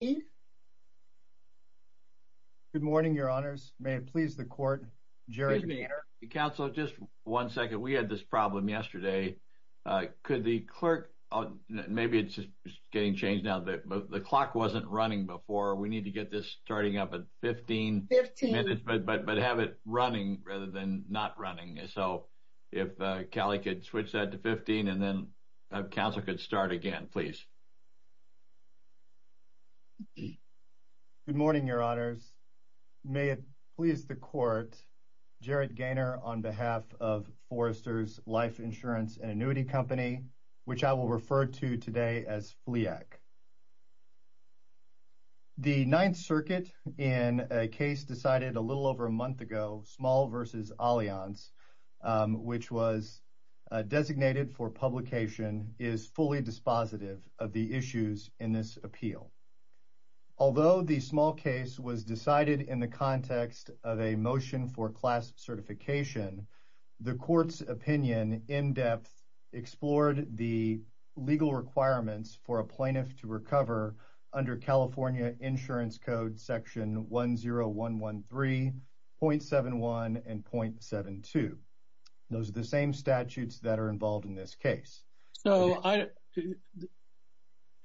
Good morning, Your Honors. May it please the Court, Jerry Maynard. Counsel, just one second. We had this problem yesterday. Could the clerk, maybe it's just getting changed now, the clock wasn't running before. We need to get this starting up at 15 minutes, but have it running rather than not running. So if Kelly could switch that to 15 and then counsel could start again, please. Good morning, Your Honors. May it please the Court, Jared Gaynor on behalf of Foresters Life Insurance and Annuity Company, which I will refer to today as FLEAC. The Ninth Circuit in a case decided a little over a month ago, Small v. Allianz, which was designated for publication, is fully dispositive of the issues in this appeal. Although the small case was decided in the context of a motion for class certification, the Court's opinion in depth explored the legal requirements for a plaintiff to recover under California Insurance Code, Section 10113.71 and .72. Those are the same statutes that are involved in this case. So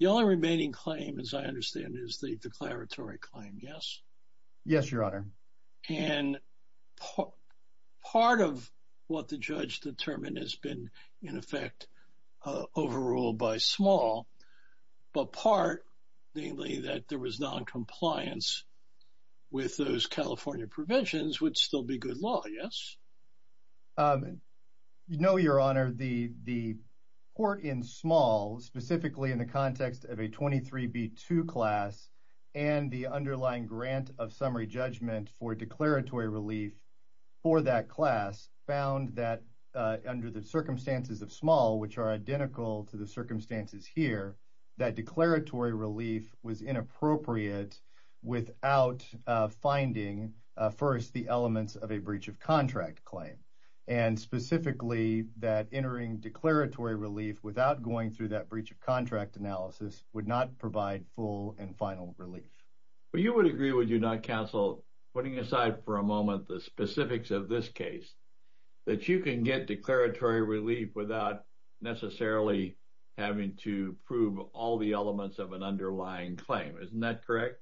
the only remaining claim, as I understand, is the declaratory claim, yes? Yes, Your Honor. And part of what the judge determined has been, in effect, overruled by Small, but part, namely that there was noncompliance with those California provisions, would still be good law, yes? No, Your Honor. Your Honor, the Court in Small, specifically in the context of a 23B2 class, and the underlying grant of summary judgment for declaratory relief for that class, found that under the circumstances of Small, which are identical to the circumstances here, that declaratory relief was inappropriate without finding, first, the elements of a breach of contract claim. And specifically, that entering declaratory relief without going through that breach of contract analysis would not provide full and final relief. But you would agree, would you not, counsel, putting aside for a moment the specifics of this case, that you can get declaratory relief without necessarily having to prove all the elements of an underlying claim. Isn't that correct?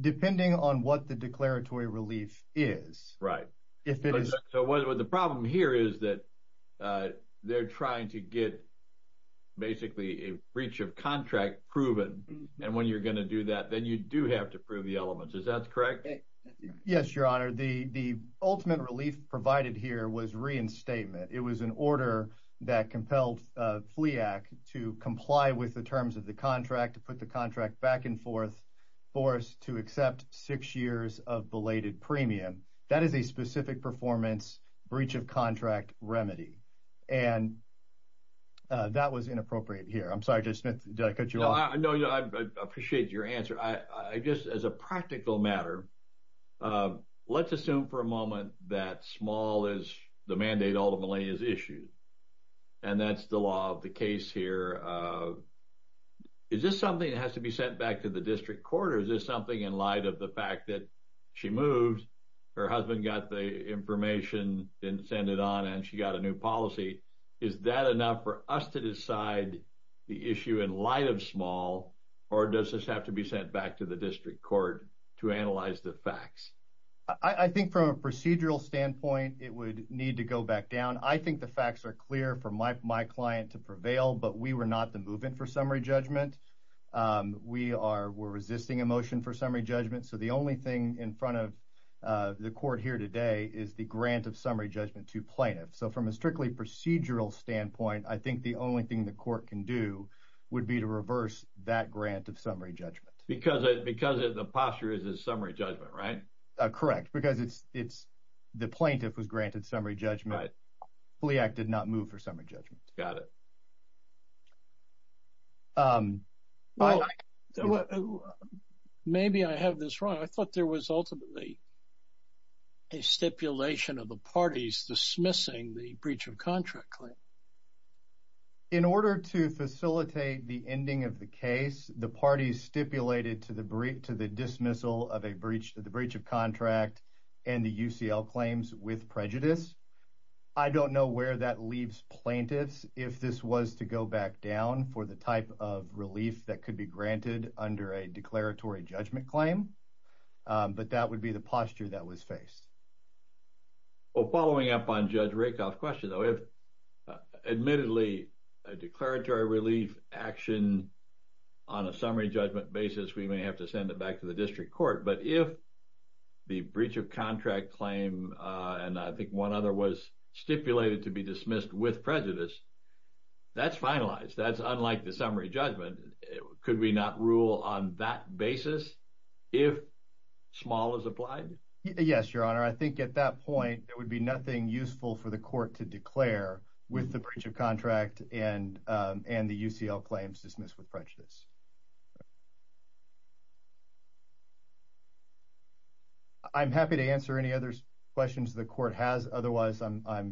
Depending on what the declaratory relief is. Right. So the problem here is that they're trying to get, basically, a breach of contract proven, and when you're going to do that, then you do have to prove the elements. Is that correct? Yes, Your Honor. The ultimate relief provided here was reinstatement. It was an order that compelled FLEAC to comply with the terms of the contract, to put the contract back and forth for us to accept six years of belated premium. That is a specific performance breach of contract remedy. And that was inappropriate here. I'm sorry, Judge Smith, did I cut you off? No, I appreciate your answer. I just, as a practical matter, let's assume for a moment that small is the mandate ultimately is issued, and that's the law of the case here. Is this something that has to be sent back to the district court, or is this something in light of the fact that she moved, her husband got the information, didn't send it on, and she got a new policy? Is that enough for us to decide the issue in light of small, or does this have to be sent back to the district court to analyze the facts? I think from a procedural standpoint, it would need to go back down. I think the facts are clear for my client to prevail, but we were not the movement for summary judgment. We're resisting a motion for summary judgment, so the only thing in front of the court here today is the grant of summary judgment to plaintiffs. So from a strictly procedural standpoint, I think the only thing the court can do would be to reverse that grant of summary judgment. Because the posture is a summary judgment, right? Correct, because the plaintiff was granted summary judgment. FLEAC did not move for summary judgment. Got it. Well, maybe I have this wrong. I thought there was ultimately a stipulation of the parties dismissing the breach of contract claim. In order to facilitate the ending of the case, the parties stipulated to the dismissal of the breach of contract and the UCL claims with prejudice. I don't know where that leaves plaintiffs, if this was to go back down for the type of relief that could be granted under a declaratory judgment claim. But that would be the posture that was faced. Well, following up on Judge Rakoff's question, though, if admittedly a declaratory relief action on a summary judgment basis, we may have to send it back to the district court. But if the breach of contract claim, and I think one other, was stipulated to be dismissed with prejudice, that's finalized. That's unlike the summary judgment. Could we not rule on that basis if small is applied? Yes, Your Honor. I think at that point, there would be nothing useful for the court to declare with the breach of contract and the UCL claims dismissed with prejudice. I'm happy to answer any other questions the court has. Otherwise, I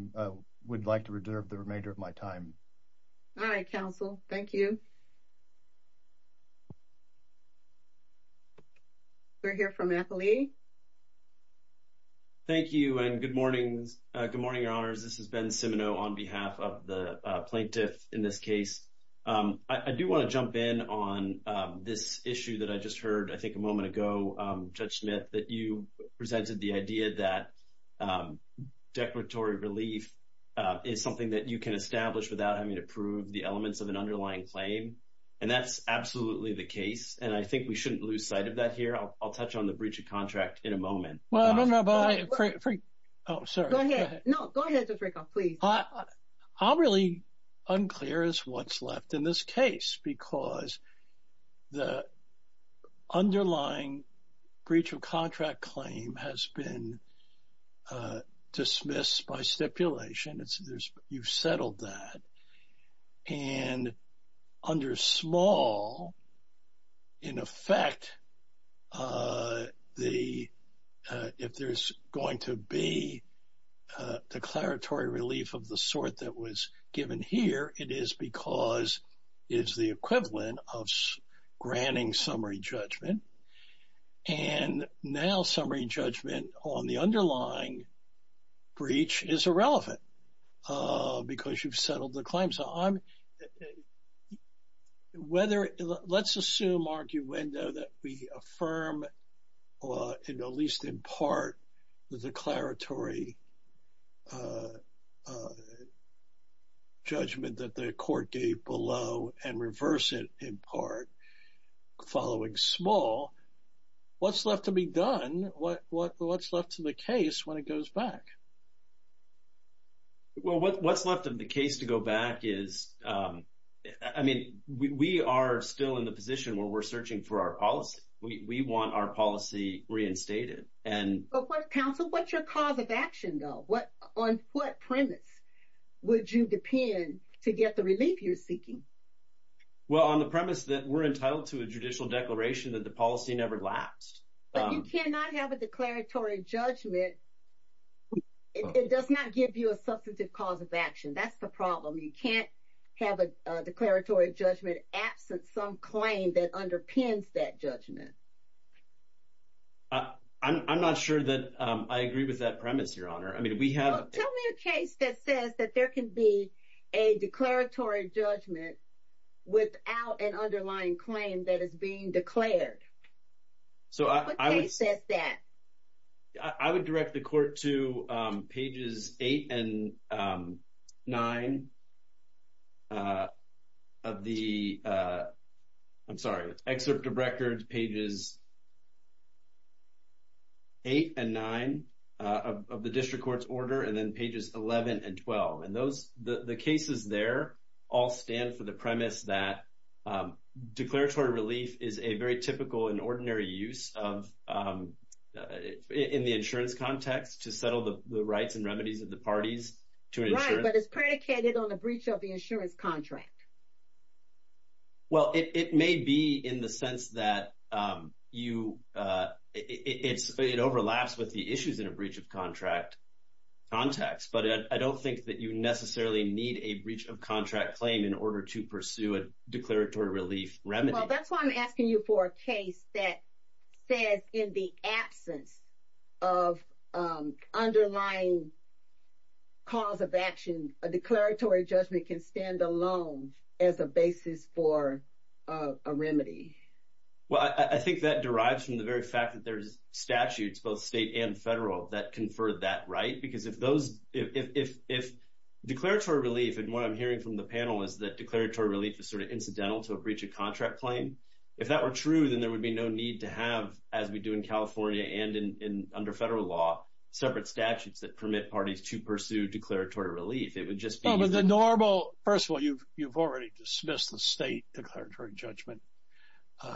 would like to reserve the remainder of my time. All right, counsel. Thank you. We'll hear from Nathalie. Thank you, and good morning, Your Honors. This is Ben Cimino on behalf of the plaintiff in this case. I do want to jump in on this issue that I just heard, I think, a moment ago, Judge Smith, that you presented the idea that declaratory relief is something that you can establish without having to prove the elements of an underlying claim. And that's absolutely the case, and I think we shouldn't lose sight of that here. I'll touch on the breach of contract in a moment. Well, I don't know about it. Oh, sorry. Go ahead. No, go ahead, Judge Rakoff, please. I'm really unclear as to what's left in this case because the underlying breach of contract claim has been dismissed by stipulation. You've settled that. And under small, in effect, if there's going to be declaratory relief of the sort that was given here, it is because it's the equivalent of granting summary judgment. And now summary judgment on the underlying breach is irrelevant because you've settled the claim. So let's assume, arguendo, that we affirm, at least in part, the declaratory judgment that the court gave below and reverse it in part following small. What's left to be done? What's left to the case when it goes back? Well, what's left of the case to go back is, I mean, we are still in the position where we're searching for our policy. We want our policy reinstated. But, counsel, what's your cause of action, though? On what premise would you depend to get the relief you're seeking? Well, on the premise that we're entitled to a judicial declaration that the policy never lapsed. But you cannot have a declaratory judgment. It does not give you a substantive cause of action. That's the problem. You can't have a declaratory judgment absent some claim that underpins that judgment. I'm not sure that I agree with that premise, Your Honor. I mean, we have – Well, tell me a case that says that there can be a declaratory judgment without an underlying claim that is being declared. What case says that? I would direct the court to pages 8 and 9 of the – I'm sorry, Excerpt of Records, pages 8 and 9 of the district court's order, and then pages 11 and 12. And those – the cases there all stand for the premise that declaratory relief is a very typical and ordinary use of – in the insurance context to settle the rights and remedies of the parties to an insurance – Right, but it's predicated on a breach of the insurance contract. Well, it may be in the sense that you – it overlaps with the issues in a breach of contract context. But I don't think that you necessarily need a breach of contract claim in order to pursue a declaratory relief remedy. Well, that's why I'm asking you for a case that says in the absence of underlying cause of action, a declaratory judgment can stand alone as a basis for a remedy. Well, I think that derives from the very fact that there's statutes, both state and federal, that confer that right. Because if those – if declaratory relief, and what I'm hearing from the panel, is that declaratory relief is sort of incidental to a breach of contract claim, if that were true, then there would be no need to have, as we do in California and under federal law, separate statutes that permit parties to pursue declaratory relief. It would just be – Well, but the normal – first of all, you've already dismissed the state declaratory judgment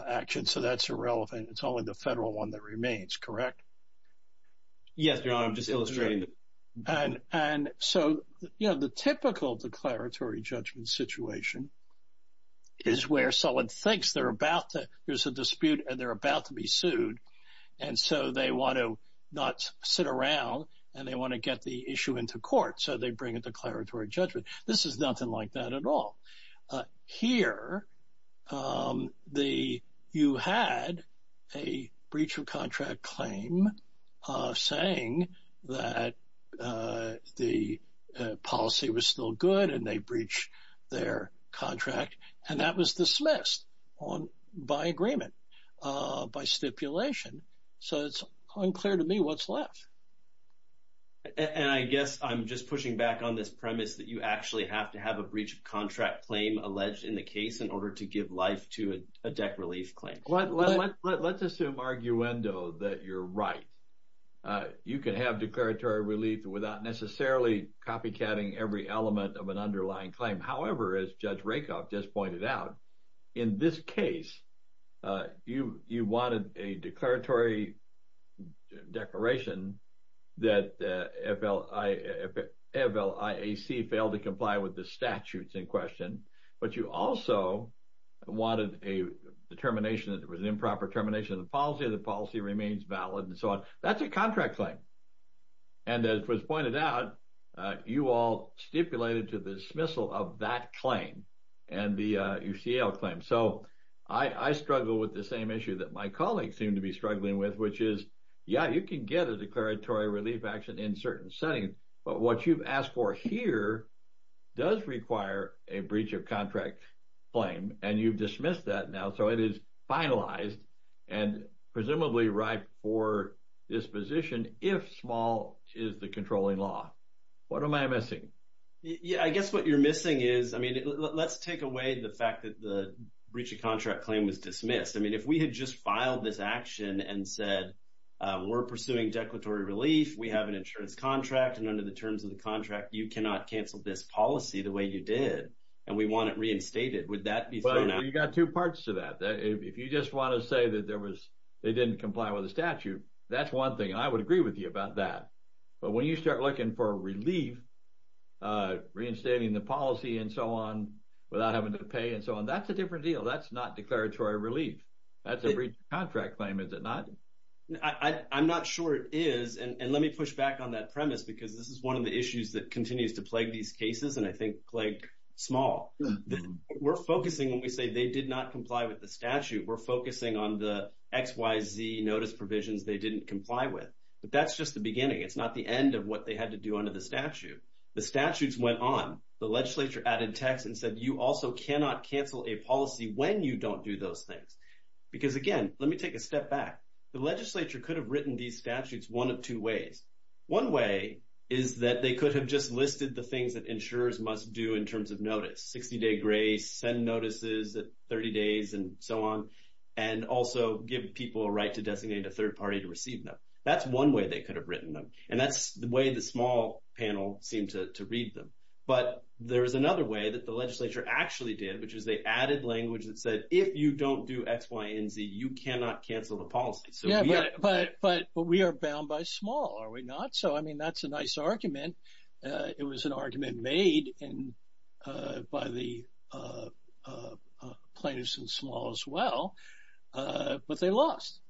action, so that's irrelevant. It's only the federal one that remains, correct? Yes, Your Honor, I'm just illustrating. And so, you know, the typical declaratory judgment situation is where someone thinks they're about to – there's a dispute and they're about to be sued, and so they want to not sit around and they want to get the issue into court, so they bring a declaratory judgment. This is nothing like that at all. Here, you had a breach of contract claim saying that the policy was still good and they breached their contract, and that was dismissed by agreement, by stipulation. So it's unclear to me what's left. And I guess I'm just pushing back on this premise that you actually have to have a breach of contract claim alleged in the case in order to give life to a dec relief claim. Let's assume, arguendo, that you're right. You can have declaratory relief without necessarily copycatting every element of an underlying claim. However, as Judge Rakoff just pointed out, in this case, you wanted a declaratory declaration that FLIAC failed to comply with the statutes in question, but you also wanted a determination that there was an improper termination of the policy, the policy remains valid, and so on. That's a contract claim. And as was pointed out, you all stipulated to the dismissal of that claim and the UCL claim. So I struggle with the same issue that my colleagues seem to be struggling with, which is, yeah, you can get a declaratory relief action in certain settings, but what you've asked for here does require a breach of contract claim, and you've dismissed that now. So it is finalized and presumably ripe for disposition if small is the controlling law. What am I missing? Yeah, I guess what you're missing is, I mean, let's take away the fact that the breach of contract claim was dismissed. I mean, if we had just filed this action and said, we're pursuing declaratory relief, we have an insurance contract, and under the terms of the contract, you cannot cancel this policy the way you did, and we want it reinstated, would that be fair enough? You've got two parts to that. If you just want to say that they didn't comply with the statute, that's one thing, and I would agree with you about that. But when you start looking for relief, reinstating the policy and so on without having to pay and so on, that's a different deal. That's not declaratory relief. That's a breach of contract claim, is it not? I'm not sure it is. And let me push back on that premise because this is one of the issues that continues to plague these cases, and I think plague small. We're focusing, when we say they did not comply with the statute, we're focusing on the X, Y, Z notice provisions they didn't comply with. But that's just the beginning. It's not the end of what they had to do under the statute. The statutes went on. The legislature added text and said you also cannot cancel a policy when you don't do those things. Because, again, let me take a step back. The legislature could have written these statutes one of two ways. One way is that they could have just listed the things that insurers must do in terms of notice, 60-day grace, send notices at 30 days and so on, and also give people a right to designate a third party to receive them. That's one way they could have written them, and that's the way the small panel seemed to read them. But there is another way that the legislature actually did, which is they added language that said if you don't do X, Y, and Z, you cannot cancel the policy. But we are bound by small, are we not? So, I mean, that's a nice argument. It was an argument made by the plaintiffs in small as well, but they lost.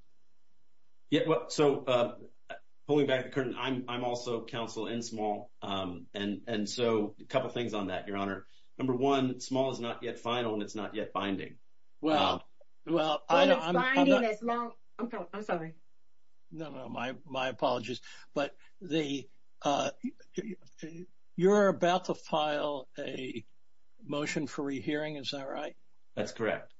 So, pulling back the curtain, I'm also counsel in small, and so a couple things on that, Your Honor. Number one, small is not yet final and it's not yet binding. Well, I'm sorry. No, no, my apologies. But you're about to file a motion for rehearing, is that right? That's correct.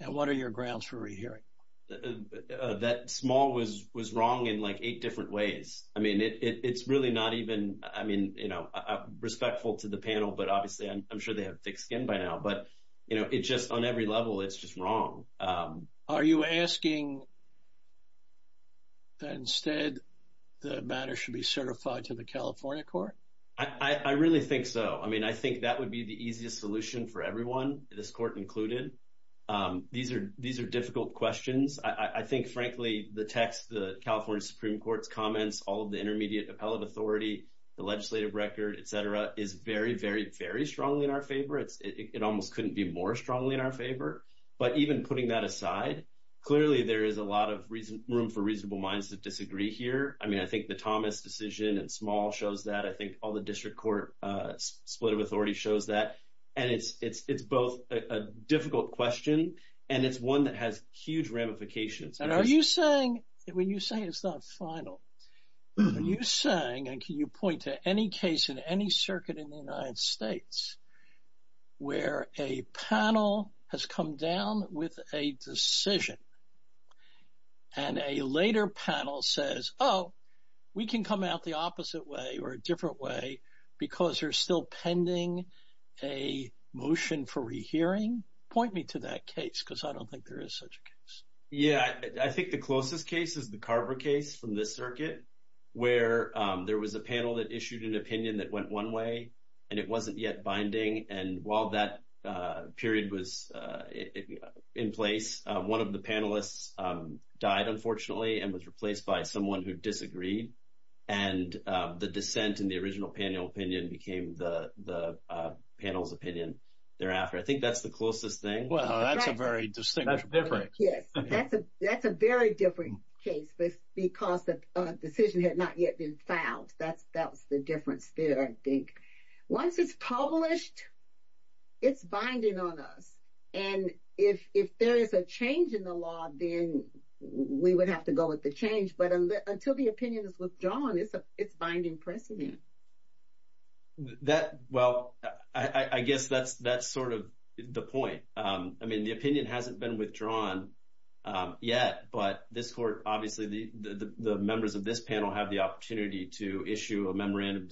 And what are your grounds for rehearing? That small was wrong in like eight different ways. I mean, it's really not even, I mean, you know, respectful to the panel, but obviously I'm sure they have thick skin by now. But, you know, it's just on every level, it's just wrong. Are you asking that instead the matter should be certified to the California court? I really think so. I mean, I think that would be the easiest solution for everyone, this court included. These are difficult questions. I think, frankly, the text, the California Supreme Court's comments, all of the intermediate appellate authority, the legislative record, et cetera, is very, very, very strongly in our favor. It almost couldn't be more strongly in our favor. But even putting that aside, clearly there is a lot of room for reasonable minds to disagree here. I mean, I think the Thomas decision and small shows that. I think all the district court split of authority shows that. And it's both a difficult question and it's one that has huge ramifications. And are you saying, when you say it's not final, are you saying and can you point to any case in any circuit in the United States where a panel has come down with a decision and a later panel says, oh, we can come out the opposite way or a different way because they're still pending a motion for rehearing? Point me to that case because I don't think there is such a case. Yeah, I think the closest case is the Carver case from this circuit where there was a panel that issued an opinion that went one way and it wasn't yet binding. And while that period was in place, one of the panelists died, unfortunately, and was replaced by someone who disagreed. And the dissent in the original panel opinion became the panel's opinion thereafter. I think that's the closest thing. Wow, that's a very distinct case. Yes, that's a very different case because the decision had not yet been filed. That's the difference there, I think. Once it's published, it's binding on us. And if there is a change in the law, then we would have to go with the change. But until the opinion is withdrawn, it's binding precedent. Well, I guess that's sort of the point. I mean, the opinion hasn't been withdrawn yet, but this court, obviously the members of this panel have the opportunity to issue an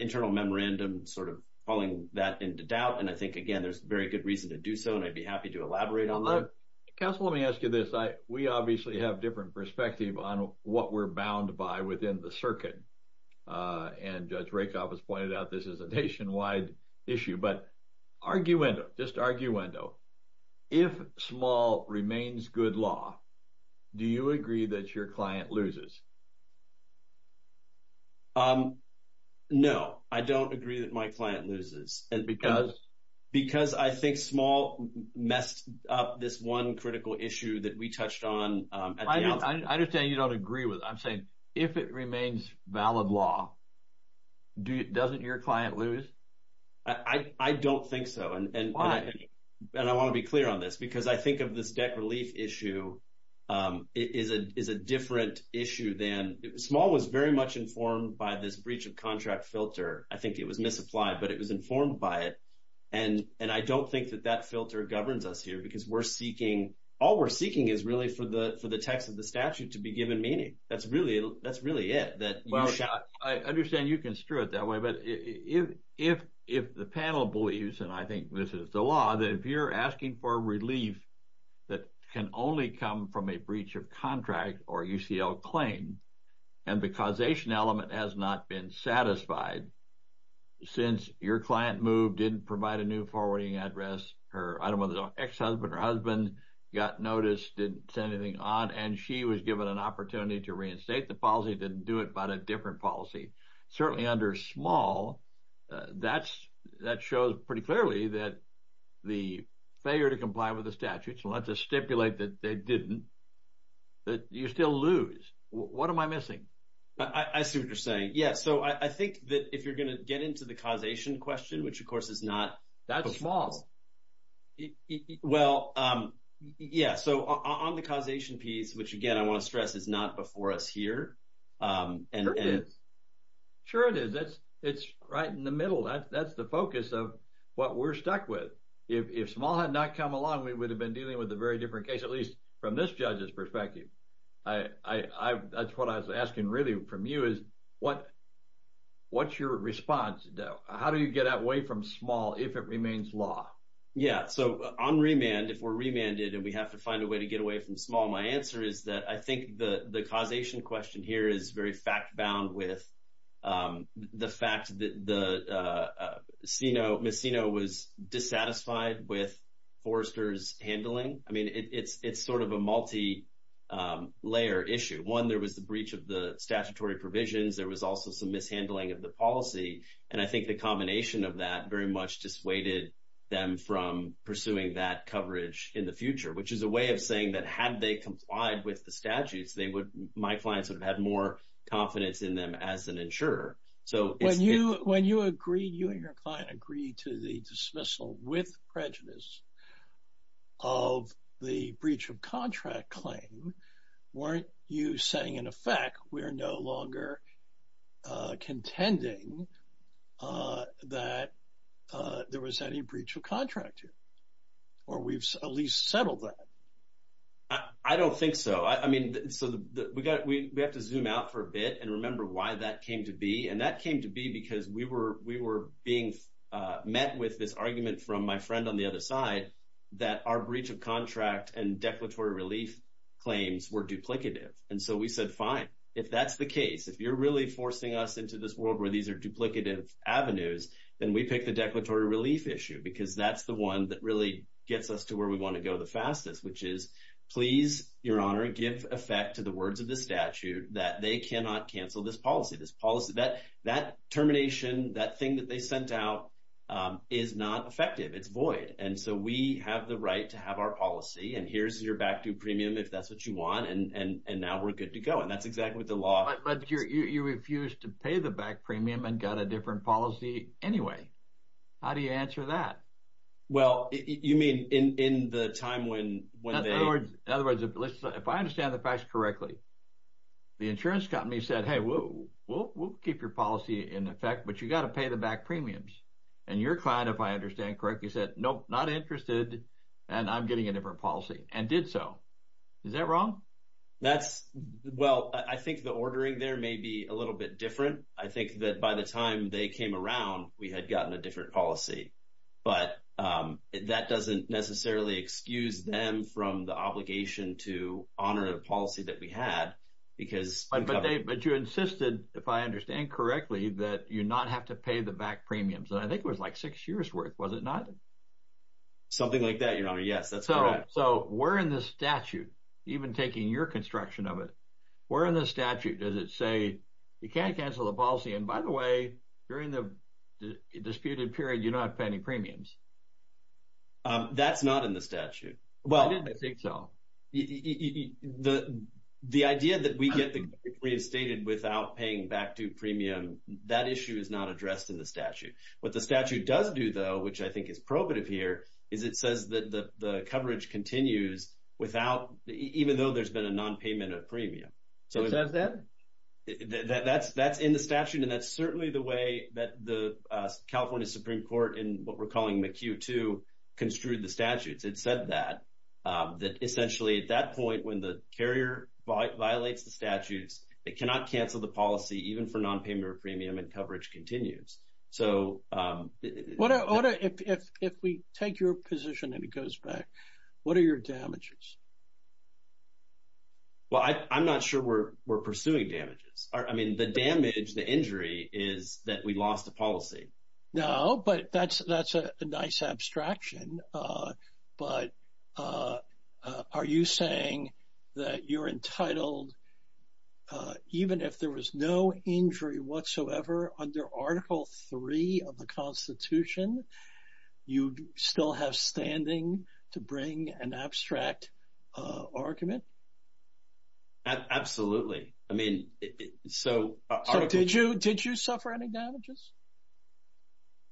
internal memorandum sort of calling that into doubt. And I think, again, there's very good reason to do so, and I'd be happy to elaborate on that. Counsel, let me ask you this. We obviously have different perspective on what we're bound by within the circuit. And Judge Rakoff has pointed out this is a nationwide issue. But arguendo, just arguendo. If Small remains good law, do you agree that your client loses? No, I don't agree that my client loses. Because? Because I think Small messed up this one critical issue that we touched on. I understand you don't agree with it. I'm saying if it remains valid law, doesn't your client lose? I don't think so. Why? And I want to be clear on this, because I think of this debt relief issue is a different issue than – Small was very much informed by this breach of contract filter. I think it was misapplied, but it was informed by it. And I don't think that that filter governs us here, because we're seeking – all we're seeking is really for the text of the statute to be given meaning. That's really it. I understand you construe it that way. But if the panel believes, and I think this is the law, that if you're asking for relief that can only come from a breach of contract or UCL claim, and the causation element has not been satisfied, since your client moved, didn't provide a new forwarding address, her ex-husband or husband got notice, didn't send anything on, and she was given an opportunity to reinstate the policy, didn't do it but a different policy. Certainly under small, that shows pretty clearly that the failure to comply with the statute, so let's just stipulate that they didn't, that you still lose. What am I missing? I see what you're saying. Yeah, so I think that if you're going to get into the causation question, which, of course, is not – Well, yeah, so on the causation piece, which, again, I want to stress is not before us here. Sure it is. Sure it is. It's right in the middle. That's the focus of what we're stuck with. If small had not come along, we would have been dealing with a very different case, at least from this judge's perspective. That's what I was asking really from you is what's your response? How do you get away from small if it remains law? Yeah, so on remand, if we're remanded and we have to find a way to get away from small, my answer is that I think the causation question here is very fact-bound with the fact that Ms. Seno was dissatisfied with Forrester's handling. I mean, it's sort of a multi-layer issue. One, there was the breach of the statutory provisions. There was also some mishandling of the policy, and I think the combination of that very much dissuaded them from pursuing that coverage in the future, which is a way of saying that had they complied with the statutes, my clients would have had more confidence in them as an insurer. When you and your client agreed to the dismissal with prejudice of the breach of contract claim, weren't you saying, in effect, we're no longer contending that there was any breach of contract here, or we've at least settled that? I don't think so. I mean, we have to zoom out for a bit and remember why that came to be, and that came to be because we were being met with this argument from my friend on the other side that our breach of contract and declaratory relief claims were duplicative. And so we said, fine. If that's the case, if you're really forcing us into this world where these are duplicative avenues, then we pick the declaratory relief issue because that's the one that really gets us to where we want to go the fastest, which is please, Your Honor, give effect to the words of the statute that they cannot cancel this policy. That termination, that thing that they sent out, is not effective. It's void. And so we have the right to have our policy, and here's your back-due premium if that's what you want, and now we're good to go. And that's exactly what the law says. But you refused to pay the back premium and got a different policy anyway. How do you answer that? Well, you mean in the time when they… In other words, if I understand the facts correctly, the insurance company said, hey, we'll keep your policy in effect, but you've got to pay the back premiums. And your client, if I understand correctly, said, nope, not interested, and I'm getting a different policy, and did so. Is that wrong? Well, I think the ordering there may be a little bit different. I think that by the time they came around, we had gotten a different policy. But that doesn't necessarily excuse them from the obligation to honor a policy that we had because… But you insisted, if I understand correctly, that you not have to pay the back premiums. And I think it was like six years' worth, was it not? Something like that, Your Honor. Yes, that's correct. So where in the statute, even taking your construction of it, where in the statute does it say you can't cancel the policy, and by the way, during the disputed period, you don't have to pay any premiums? That's not in the statute. I didn't think so. The idea that we get the company reinstated without paying back due premium, that issue is not addressed in the statute. What the statute does do, though, which I think is probative here, is it says that the coverage continues even though there's been a nonpayment of premium. Who says that? That's in the statute, and that's certainly the way that the California Supreme Court in what we're calling McHugh 2 construed the statutes. It said that, that essentially at that point when the carrier violates the statutes, it cannot cancel the policy even for nonpayment of premium and coverage continues. What if we take your position and it goes back? What are your damages? Well, I'm not sure we're pursuing damages. I mean, the damage, the injury is that we lost the policy. No, but that's a nice abstraction, but are you saying that you're entitled, even if there was no injury whatsoever under Article 3 of the Constitution, you'd still have standing to bring an abstract argument? Absolutely. Did you suffer any damages?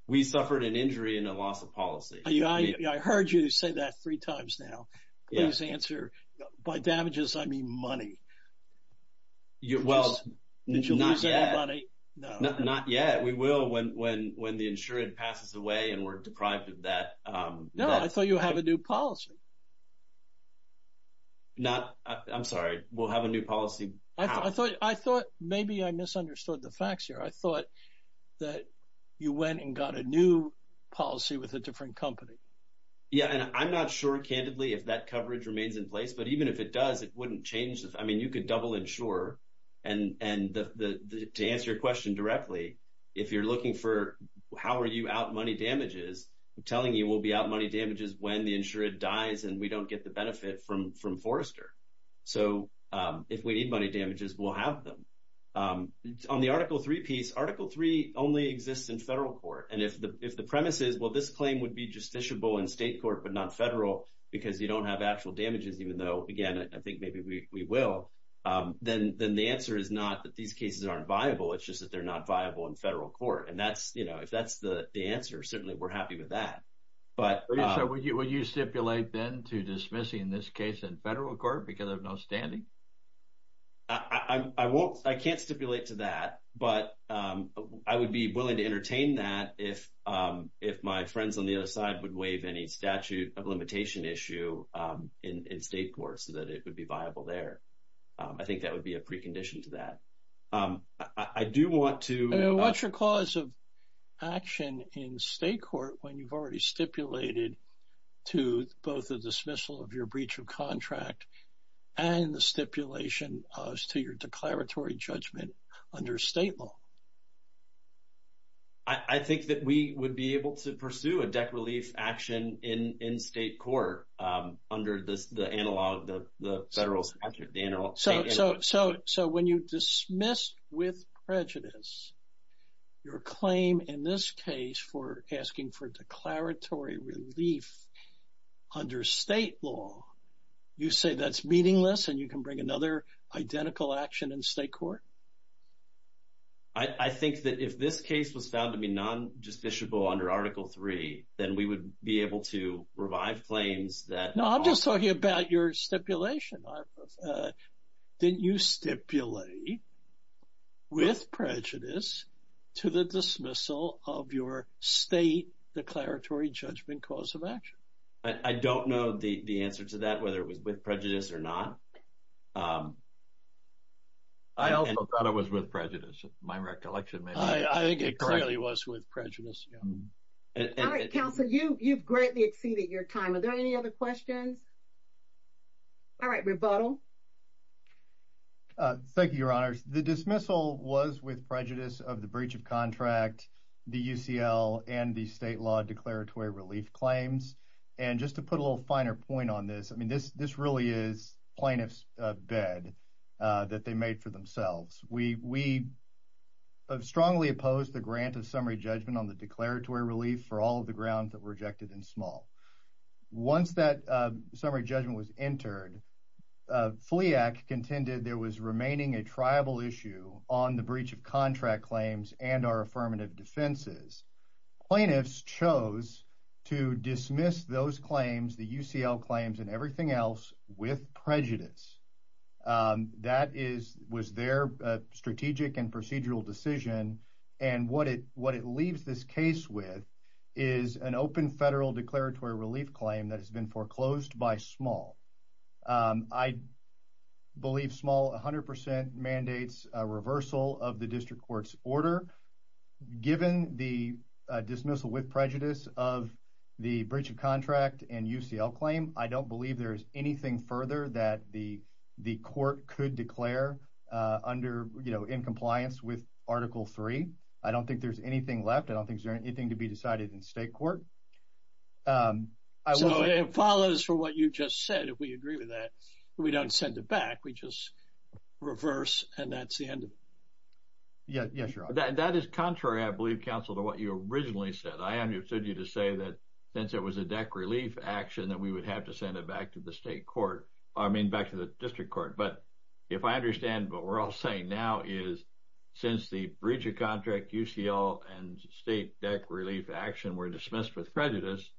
We suffered an injury and a loss of policy. I heard you say that three times now. Please answer. By damages, I mean money. Did you lose any money? Not yet. We will when the insured passes away and we're deprived of that. No, I thought you have a new policy. I'm sorry. We'll have a new policy. I thought maybe I misunderstood the facts here. I thought that you went and got a new policy with a different company. Yeah, and I'm not sure, candidly, if that coverage remains in place, but even if it does, it wouldn't change. I mean, you could double insure, and to answer your question directly, if you're looking for how are you out money damages, I'm telling you we'll be out money damages when the insured dies and we don't get the benefit from Forrester. So if we need money damages, we'll have them. On the Article 3 piece, Article 3 only exists in federal court, and if the premise is, well, this claim would be justiciable in state court but not federal because you don't have actual damages, even though, again, I think maybe we will, then the answer is not that these cases aren't viable. It's just that they're not viable in federal court. And if that's the answer, certainly we're happy with that. So would you stipulate then to dismissing this case in federal court because of no standing? I can't stipulate to that, but I would be willing to entertain that if my friends on the other side would waive any statute of limitation issue in state court so that it would be viable there. I think that would be a precondition to that. I do want to – What's your cause of action in state court when you've already stipulated to both the dismissal of your breach of contract and the stipulation as to your declaratory judgment under state law? I think that we would be able to pursue a deck relief action in state court under the federal statute. So when you dismiss with prejudice your claim in this case for asking for declaratory relief under state law, you say that's meaningless and you can bring another identical action in state court? I think that if this case was found to be non-justiciable under Article III, then we would be able to revive claims that – No, I'm just talking about your stipulation. Didn't you stipulate with prejudice to the dismissal of your state declaratory judgment cause of action? I don't know the answer to that, whether it was with prejudice or not. I also thought it was with prejudice. My recollection may be – I think it clearly was with prejudice, yeah. All right, counsel, you've greatly exceeded your time. Are there any other questions? All right, rebuttal. Thank you, Your Honors. The dismissal was with prejudice of the breach of contract, the UCL, and the state law declaratory relief claims. And just to put a little finer point on this, I mean this really is plaintiff's bed that they made for themselves. We have strongly opposed the grant of summary judgment on the declaratory relief for all of the grounds that were rejected in small. Once that summary judgment was entered, FLEAC contended there was remaining a tribal issue on the breach of contract claims and our affirmative defenses. Plaintiffs chose to dismiss those claims, the UCL claims, and everything else with prejudice. That was their strategic and procedural decision. And what it leaves this case with is an open federal declaratory relief claim that has been foreclosed by small. I believe small 100% mandates a reversal of the district court's order. Given the dismissal with prejudice of the breach of contract and UCL claim, I don't believe there is anything further that the court could declare in compliance with Article 3. I don't think there's anything left. I don't think there's anything to be decided in state court. So it follows from what you just said, if we agree with that. We don't send it back. We just reverse and that's the end of it. Yes, Your Honor. That is contrary, I believe, counsel, to what you originally said. I understood you to say that since it was a deck relief action that we would have to send it back to the state court, I mean back to the district court. But if I understand what we're all saying now is since the breach of contract, UCL, and state deck relief action were dismissed with prejudice,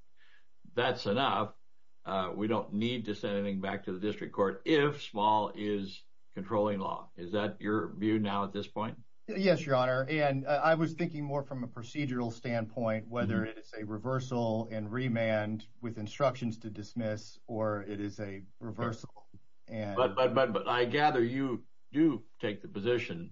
that's enough. We don't need to send anything back to the district court if small is controlling law. Is that your view now at this point? Yes, Your Honor. And I was thinking more from a procedural standpoint, whether it's a reversal and remand with instructions to dismiss or it is a reversal. But I gather you do take the position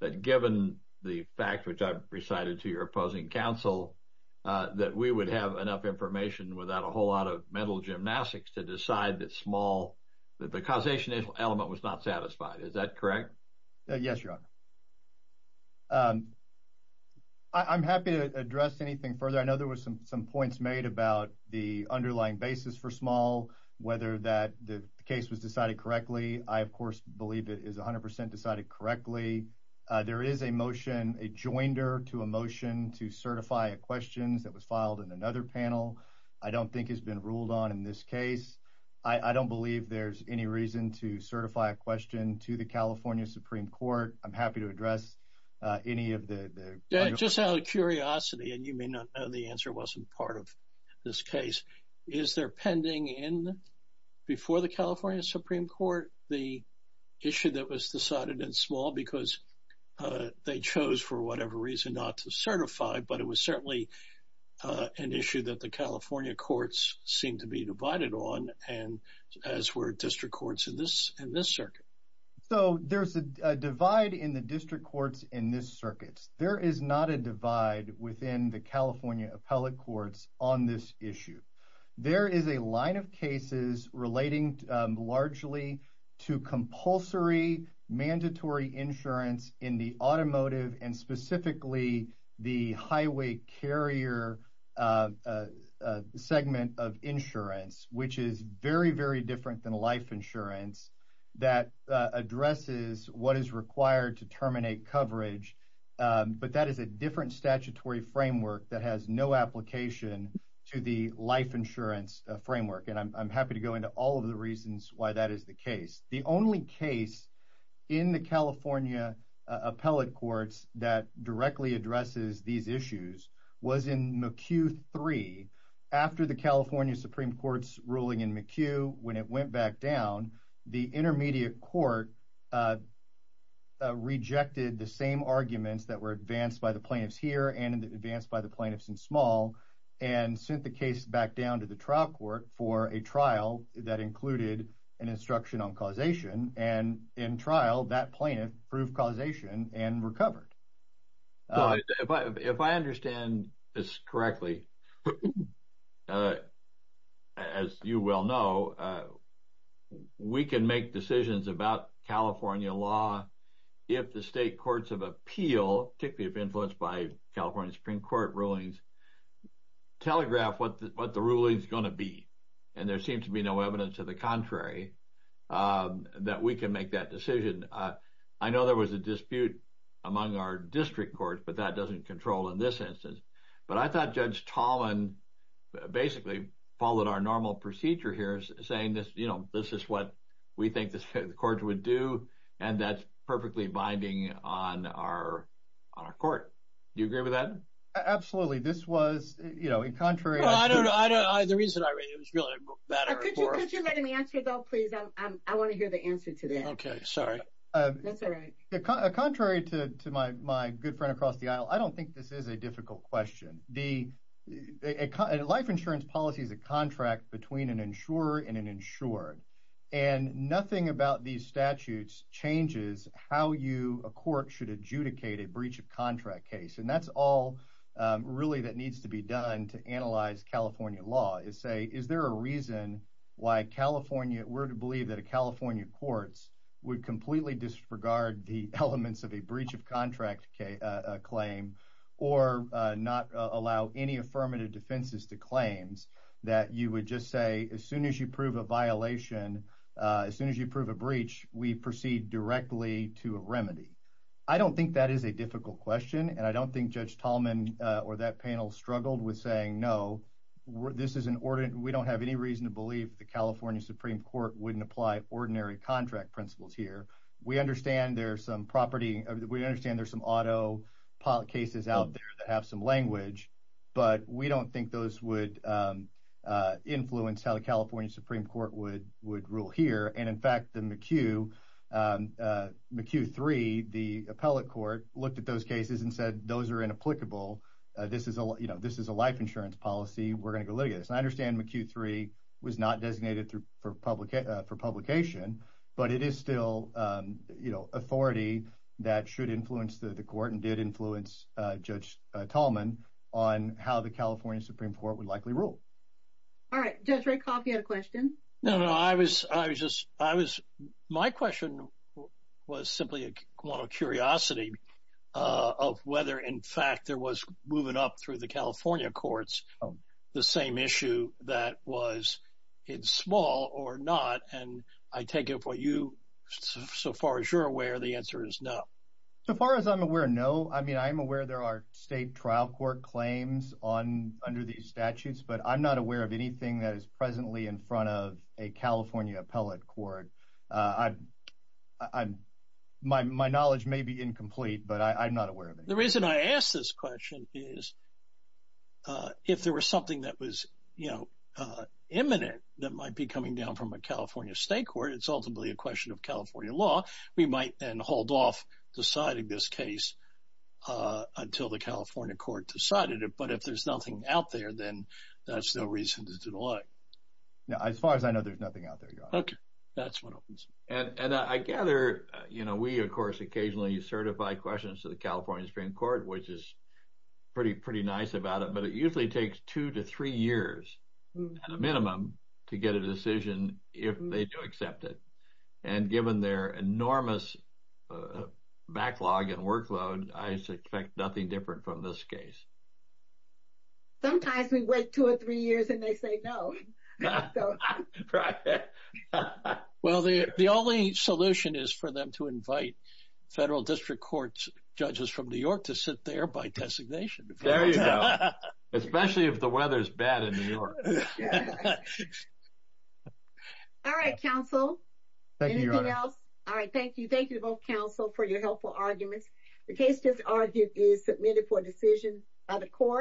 that given the fact, which I've recited to your opposing counsel, that we would have enough information without a whole lot of mental gymnastics to decide that small, that the causation element was not satisfied. Is that correct? Yes, Your Honor. I'm happy to address anything further. I know there were some points made about the underlying basis for small, whether the case was decided correctly. I, of course, believe it is 100% decided correctly. There is a motion, a joinder to a motion to certify a question that was filed in another panel. I don't think it's been ruled on in this case. I don't believe there's any reason to certify a question to the California Supreme Court. I'm happy to address any of the other questions. Just out of curiosity, and you may not know the answer wasn't part of this case, is there pending in, before the California Supreme Court, the issue that was decided in small because they chose for whatever reason not to certify, but it was certainly an issue that the California courts seemed to be divided on, as were district courts in this circuit. So there's a divide in the district courts in this circuit. There is not a divide within the California appellate courts on this issue. There is a line of cases relating largely to compulsory mandatory insurance in the automotive and specifically the highway carrier segment of insurance, which is very, very different than life insurance, that addresses what is required to terminate coverage, but that is a different statutory framework that has no application to the life insurance framework, and I'm happy to go into all of the reasons why that is the case. The only case in the California appellate courts that directly addresses these issues was in McHugh 3 after the California Supreme Court's ruling in McHugh when it went back down, the intermediate court rejected the same arguments that were advanced by the plaintiffs here and advanced by the plaintiffs in small and sent the case back down to the trial court for a trial that included an instruction on causation, and in trial that plaintiff proved causation and recovered. If I understand this correctly, as you well know, we can make decisions about California law if the state courts of appeal, particularly if influenced by California Supreme Court rulings, telegraph what the ruling is going to be, and there seems to be no evidence to the contrary that we can make that decision. I know there was a dispute among our district courts, but that doesn't control in this instance, but I thought Judge Tolan basically followed our normal procedure here saying this is what we think the courts would do and that's perfectly binding on our court. Do you agree with that? This was, you know, in contrary. Well, I don't know. The reason I read it was really a matter of course. Could you let him answer, though, please? I want to hear the answer to that. Sorry. That's all right. Contrary to my good friend across the aisle, I don't think this is a difficult question. The life insurance policy is a contract between an insurer and an insured, and nothing about these statutes changes how you, a court, should adjudicate a breach of contract case, and that's all really that needs to be done to analyze California law and say is there a reason why California, we're to believe that a California courts would completely disregard the elements of a breach of contract claim or not allow any affirmative defenses to claims that you would just say as soon as you prove a violation, as soon as you prove a breach, we proceed directly to a remedy. I don't think that is a difficult question, and I don't think Judge Tolman or that panel struggled with saying no, this is an ordinance, we don't have any reason to believe the California Supreme Court wouldn't apply ordinary contract principles here. We understand there's some property, we understand there's some auto cases out there that have some language, but we don't think those would influence how the California Supreme Court would rule here, and, in fact, the McHugh, McHugh 3, the appellate court looked at those cases and said those are inapplicable. This is a life insurance policy. We're going to go look at this, and I understand McHugh 3 was not designated for publication, but it is still authority that should influence the court and did influence Judge Tolman on how the California Supreme Court would likely rule. All right. Judge Rakoff, you had a question? No, no, I was just, I was, my question was simply a curiosity of whether, in fact, there was, moving up through the California courts, the same issue that was in small or not, and I take it for you, so far as you're aware, the answer is no. So far as I'm aware, no. I mean, I'm aware there are state trial court claims on, under these statutes, but I'm not aware of anything that is presently in front of a California appellate court. I'm, my knowledge may be incomplete, but I'm not aware of it. The reason I ask this question is if there was something that was, you know, imminent that might be coming down from a California state court, it's ultimately a question of California law. We might then hold off deciding this case until the California court decided it, but if there's nothing out there, then that's no reason to delay. Now, as far as I know, there's nothing out there. Okay. That's what opens. And I gather, you know, we, of course, occasionally you certify questions to the California Supreme Court, which is pretty, pretty nice about it, but it usually takes two to three years at a minimum to get a decision if they do accept it. And given their enormous backlog and workload, I expect nothing different from this case. Sometimes we wait two or three years and they say no. Right. Well, the only solution is for them to invite federal district court judges from New York to sit there by designation. There you go. Especially if the weather's bad in New York. All right, counsel. Anything else? All right. Thank you. Thank you both counsel for your helpful arguments. The case just argued is submitted for decision by the court.